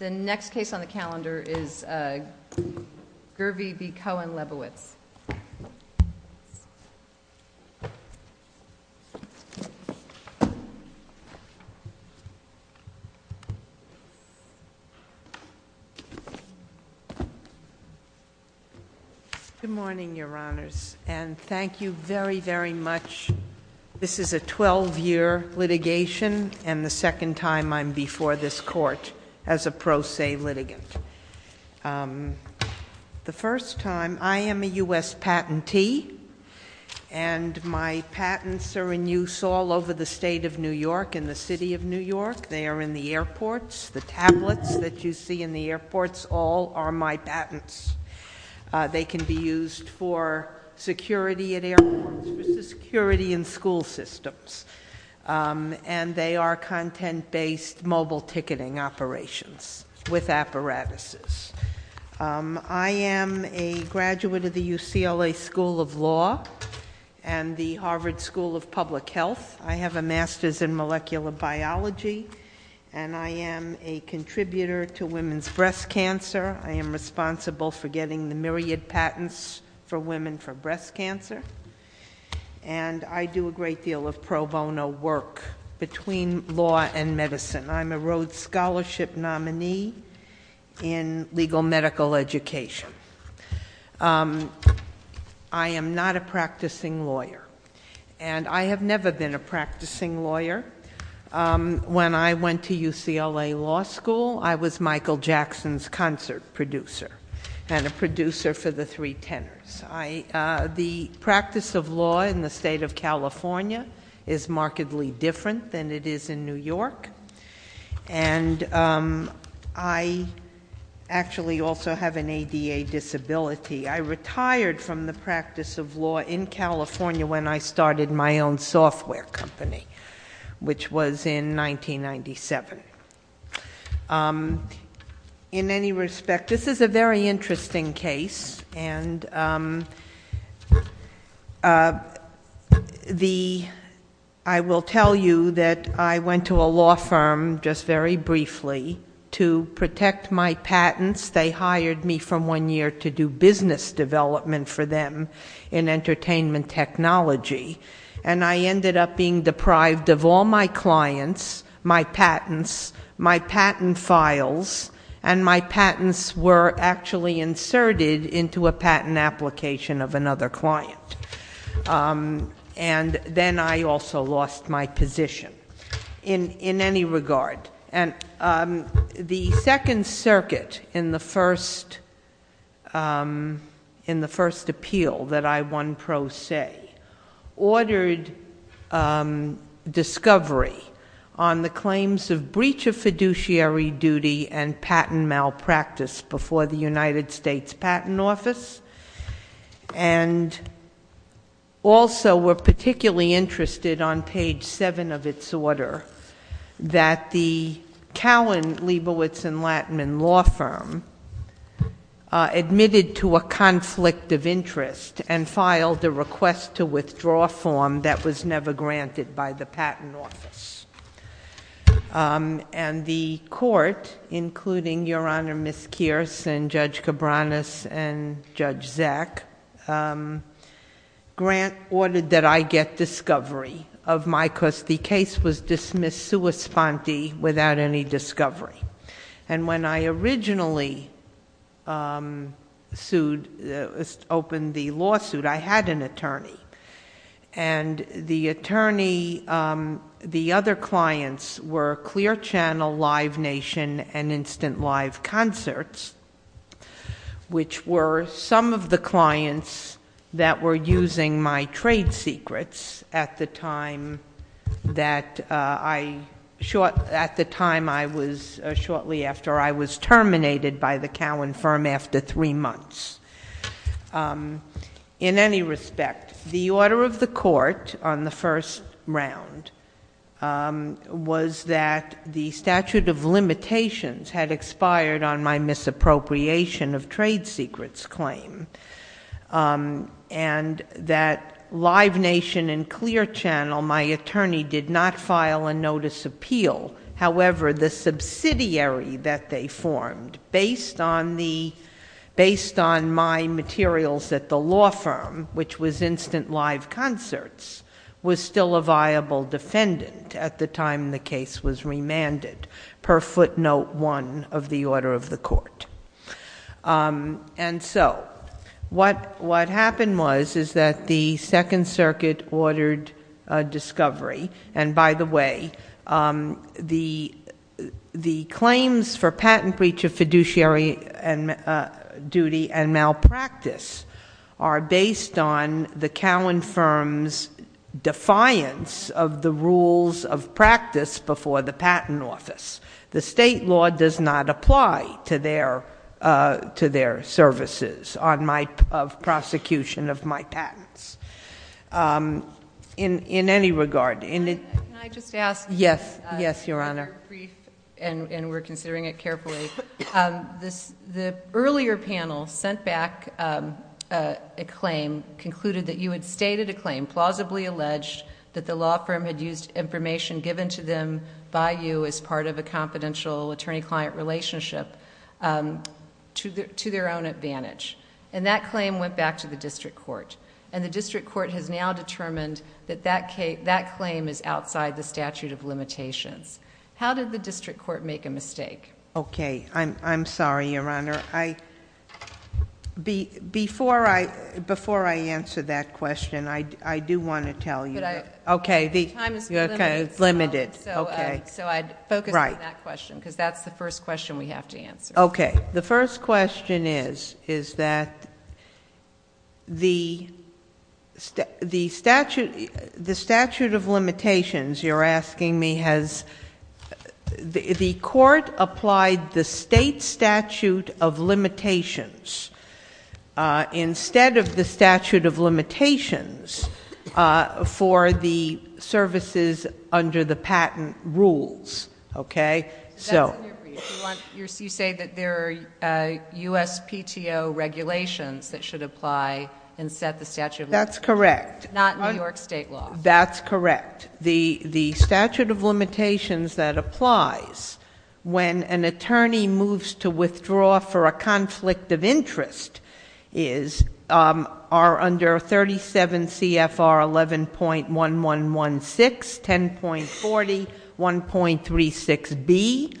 The next case on the calendar is Gurvey v. Cowan, Liebowitz. Good morning, your honors, and thank you very, very much. This is a 12-year litigation, and the second time I'm before this court as a pro se litigant. The first time, I am a US patentee, and my patents are in use all over the state of New York and the city of New York. They are in the airports, the tablets that you see in the airports, all are my patents. They can be used for security at airports, for security in school systems. And they are content-based mobile ticketing operations with apparatuses. I am a graduate of the UCLA School of Law and the Harvard School of Public Health. I have a master's in molecular biology, and I am a contributor to women's breast cancer. I am responsible for getting the myriad patents for women for breast cancer. And I do a great deal of pro bono work between law and medicine. I'm a Rhodes Scholarship nominee in legal medical education. I am not a practicing lawyer, and I have never been a practicing lawyer. When I went to UCLA Law School, I was Michael Jackson's concert producer, and a producer for the three tenors. The practice of law in the state of California is markedly different than it is in New York. And I actually also have an ADA disability. I retired from the practice of law in California when I started my own software company, which was in 1997. In any respect, this is a very interesting case. And I will tell you that I went to a law firm, just very briefly, to protect my patents. They hired me from one year to do business development for them in entertainment technology. And I ended up being deprived of all my clients, my patents, my patent files, and my patents were actually inserted into a patent application of another client. And then I also lost my position in any regard. And the Second Circuit, in the first appeal that I won pro se, ordered discovery on the claims of breach of fiduciary duty and patent malpractice before the United States Patent Office. And also were particularly interested on page seven of its order that the Cowan, Liebowitz, and Lattman law firm admitted to a conflict of interest and filed a request to withdraw form that was never granted by the patent office. And the court, including Your Honor, Ms. Kearse, and Judge Cabranes, and Judge Zack, Grant ordered that I get discovery of my, because the case was dismissed sua sponte without any discovery. And when I originally opened the lawsuit, I had an attorney. And the attorney, the other clients were Clear Channel Live Nation and Instant Live Concerts, which were some of the clients that were using my trade secrets at the time that I, short, at the time I was, shortly after I was terminated by the Cowan firm after three months. In any respect, the order of the court on the first round was that the statute of limitations had expired on my misappropriation of trade secrets claim. And that Live Nation and Clear Channel, my attorney did not file a notice appeal. However, the subsidiary that they formed, based on the, based on my materials at the law firm, which was Instant Live Concerts, was still a viable defendant at the time the case was remanded. Per footnote one of the order of the court. And so, what happened was, is that the Second Circuit ordered a discovery. And by the way, the claims for patent breach of fiduciary and duty and malpractice are based on the Cowan firm's defiance of the rules of practice before the patent office. The state law does not apply to their services on my, of prosecution of my patents. In any regard, in the- Can I just ask- Yes, yes, your honor. Brief, and we're considering it carefully. The earlier panel sent back a claim, concluded that you had stated a claim, plausibly alleged that the law firm had used information given to them by you as part of a confidential attorney-client relationship to their own advantage, and that claim went back to the district court. And the district court has now determined that that claim is outside the statute of limitations. How did the district court make a mistake? Okay, I'm sorry, your honor. I, before I answer that question, I do want to tell you. Okay, the- Time is limited, so I'd focus on that question, because that's the first question we have to answer. Okay, the first question is, is that the statute of limitations, you're asking me, has the court applied the state statute of limitations instead of the statute of limitations for the services under the patent rules, okay? So- That's in your brief. You say that there are USPTO regulations that should apply and set the statute of limitations. That's correct. Not New York state law. That's correct. The statute of limitations that applies when an attorney moves to withdraw for a conflict of interest are under 37 CFR 11.1116, 10.40, 1.36B.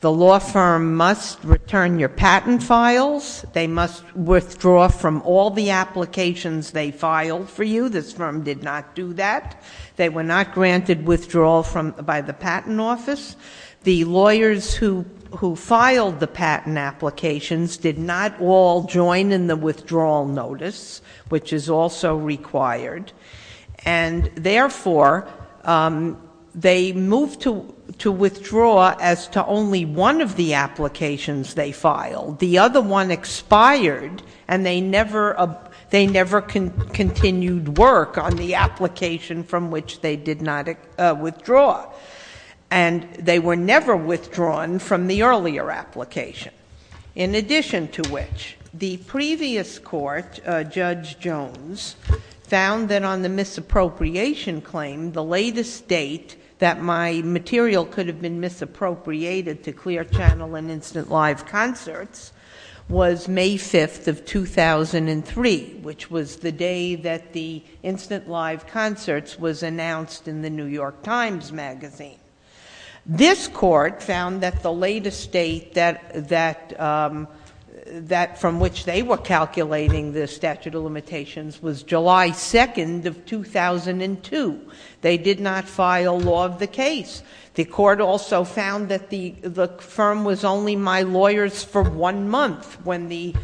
The law firm must return your patent files. They must withdraw from all the applications they filed for you. This firm did not do that. They were not granted withdrawal by the patent office. The lawyers who filed the patent applications did not all join in the withdrawal notice, which is also required, and therefore, they moved to withdraw as to only one of the applications they filed. The other one expired, and they never continued work on the application from which they did not withdraw. And they were never withdrawn from the earlier application. In addition to which, the previous court, Judge Jones, found that on the misappropriation claim, the latest date that my material could have been misappropriated to Clear Channel and Instant Live Concerts was May 5th of 2003, which was the day that the Instant Live Concerts was announced in the New York Times magazine. This court found that the latest date that from which they were calculating the statute of limitations was July 2nd of 2002. They did not file law of the case. The court also found that the firm was only my lawyers for one month when the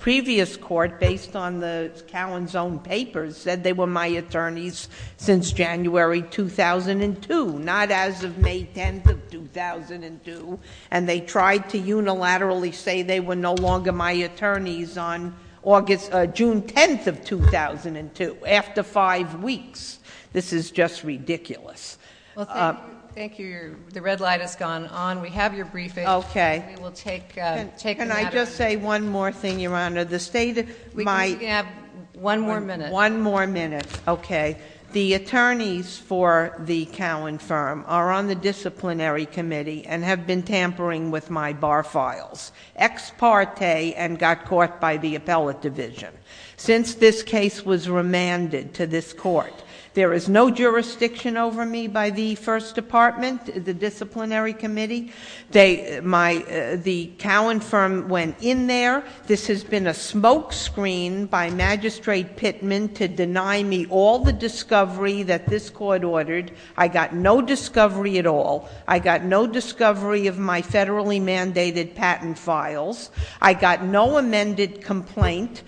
previous court, based on the Cowan's own papers, said they were my attorneys since January 2002, not as of May 10th of 2002. And they tried to unilaterally say they were no longer my attorneys on June 10th of 2002. After five weeks, this is just ridiculous. Well, thank you. The red light has gone on. We have your briefing. Okay. We will take, take- Can I just say one more thing, Your Honor? The state of my- We can have one more minute. One more minute. Okay. The attorneys for the Cowan firm are on the disciplinary committee and have been tampering with my bar files, ex parte, and got caught by the appellate division. Since this case was remanded to this court, there is no jurisdiction over me by the first department, the disciplinary committee. They, my, the Cowan firm went in there. This has been a smoke screen by Magistrate Pittman to deny me all the discovery that this court ordered. I got no discovery at all. I got no discovery of my federally mandated patent files. I got no amended complaint,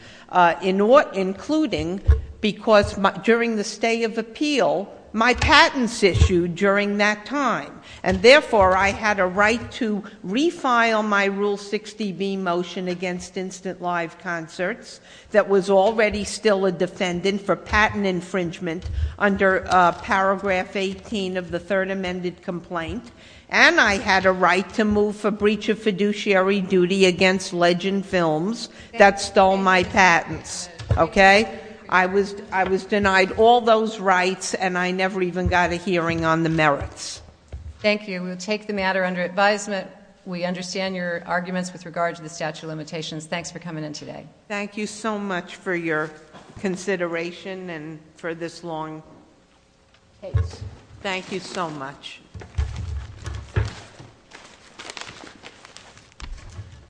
including, because during the stay of appeal, my patent's issued during that time. And therefore, I had a right to refile my Rule 60B motion against Instant Live Concerts that was already still a defendant for patent infringement under paragraph 18 of the third amended complaint. And I had a right to move for breach of fiduciary duty against Legend Films that stole my patents, okay? I was denied all those rights and I never even got a hearing on the merits. Thank you. We'll take the matter under advisement. We understand your arguments with regards to the statute of limitations. Thanks for coming in today. Thank you so much for your consideration and for this long case. Thank you so much. Thank you.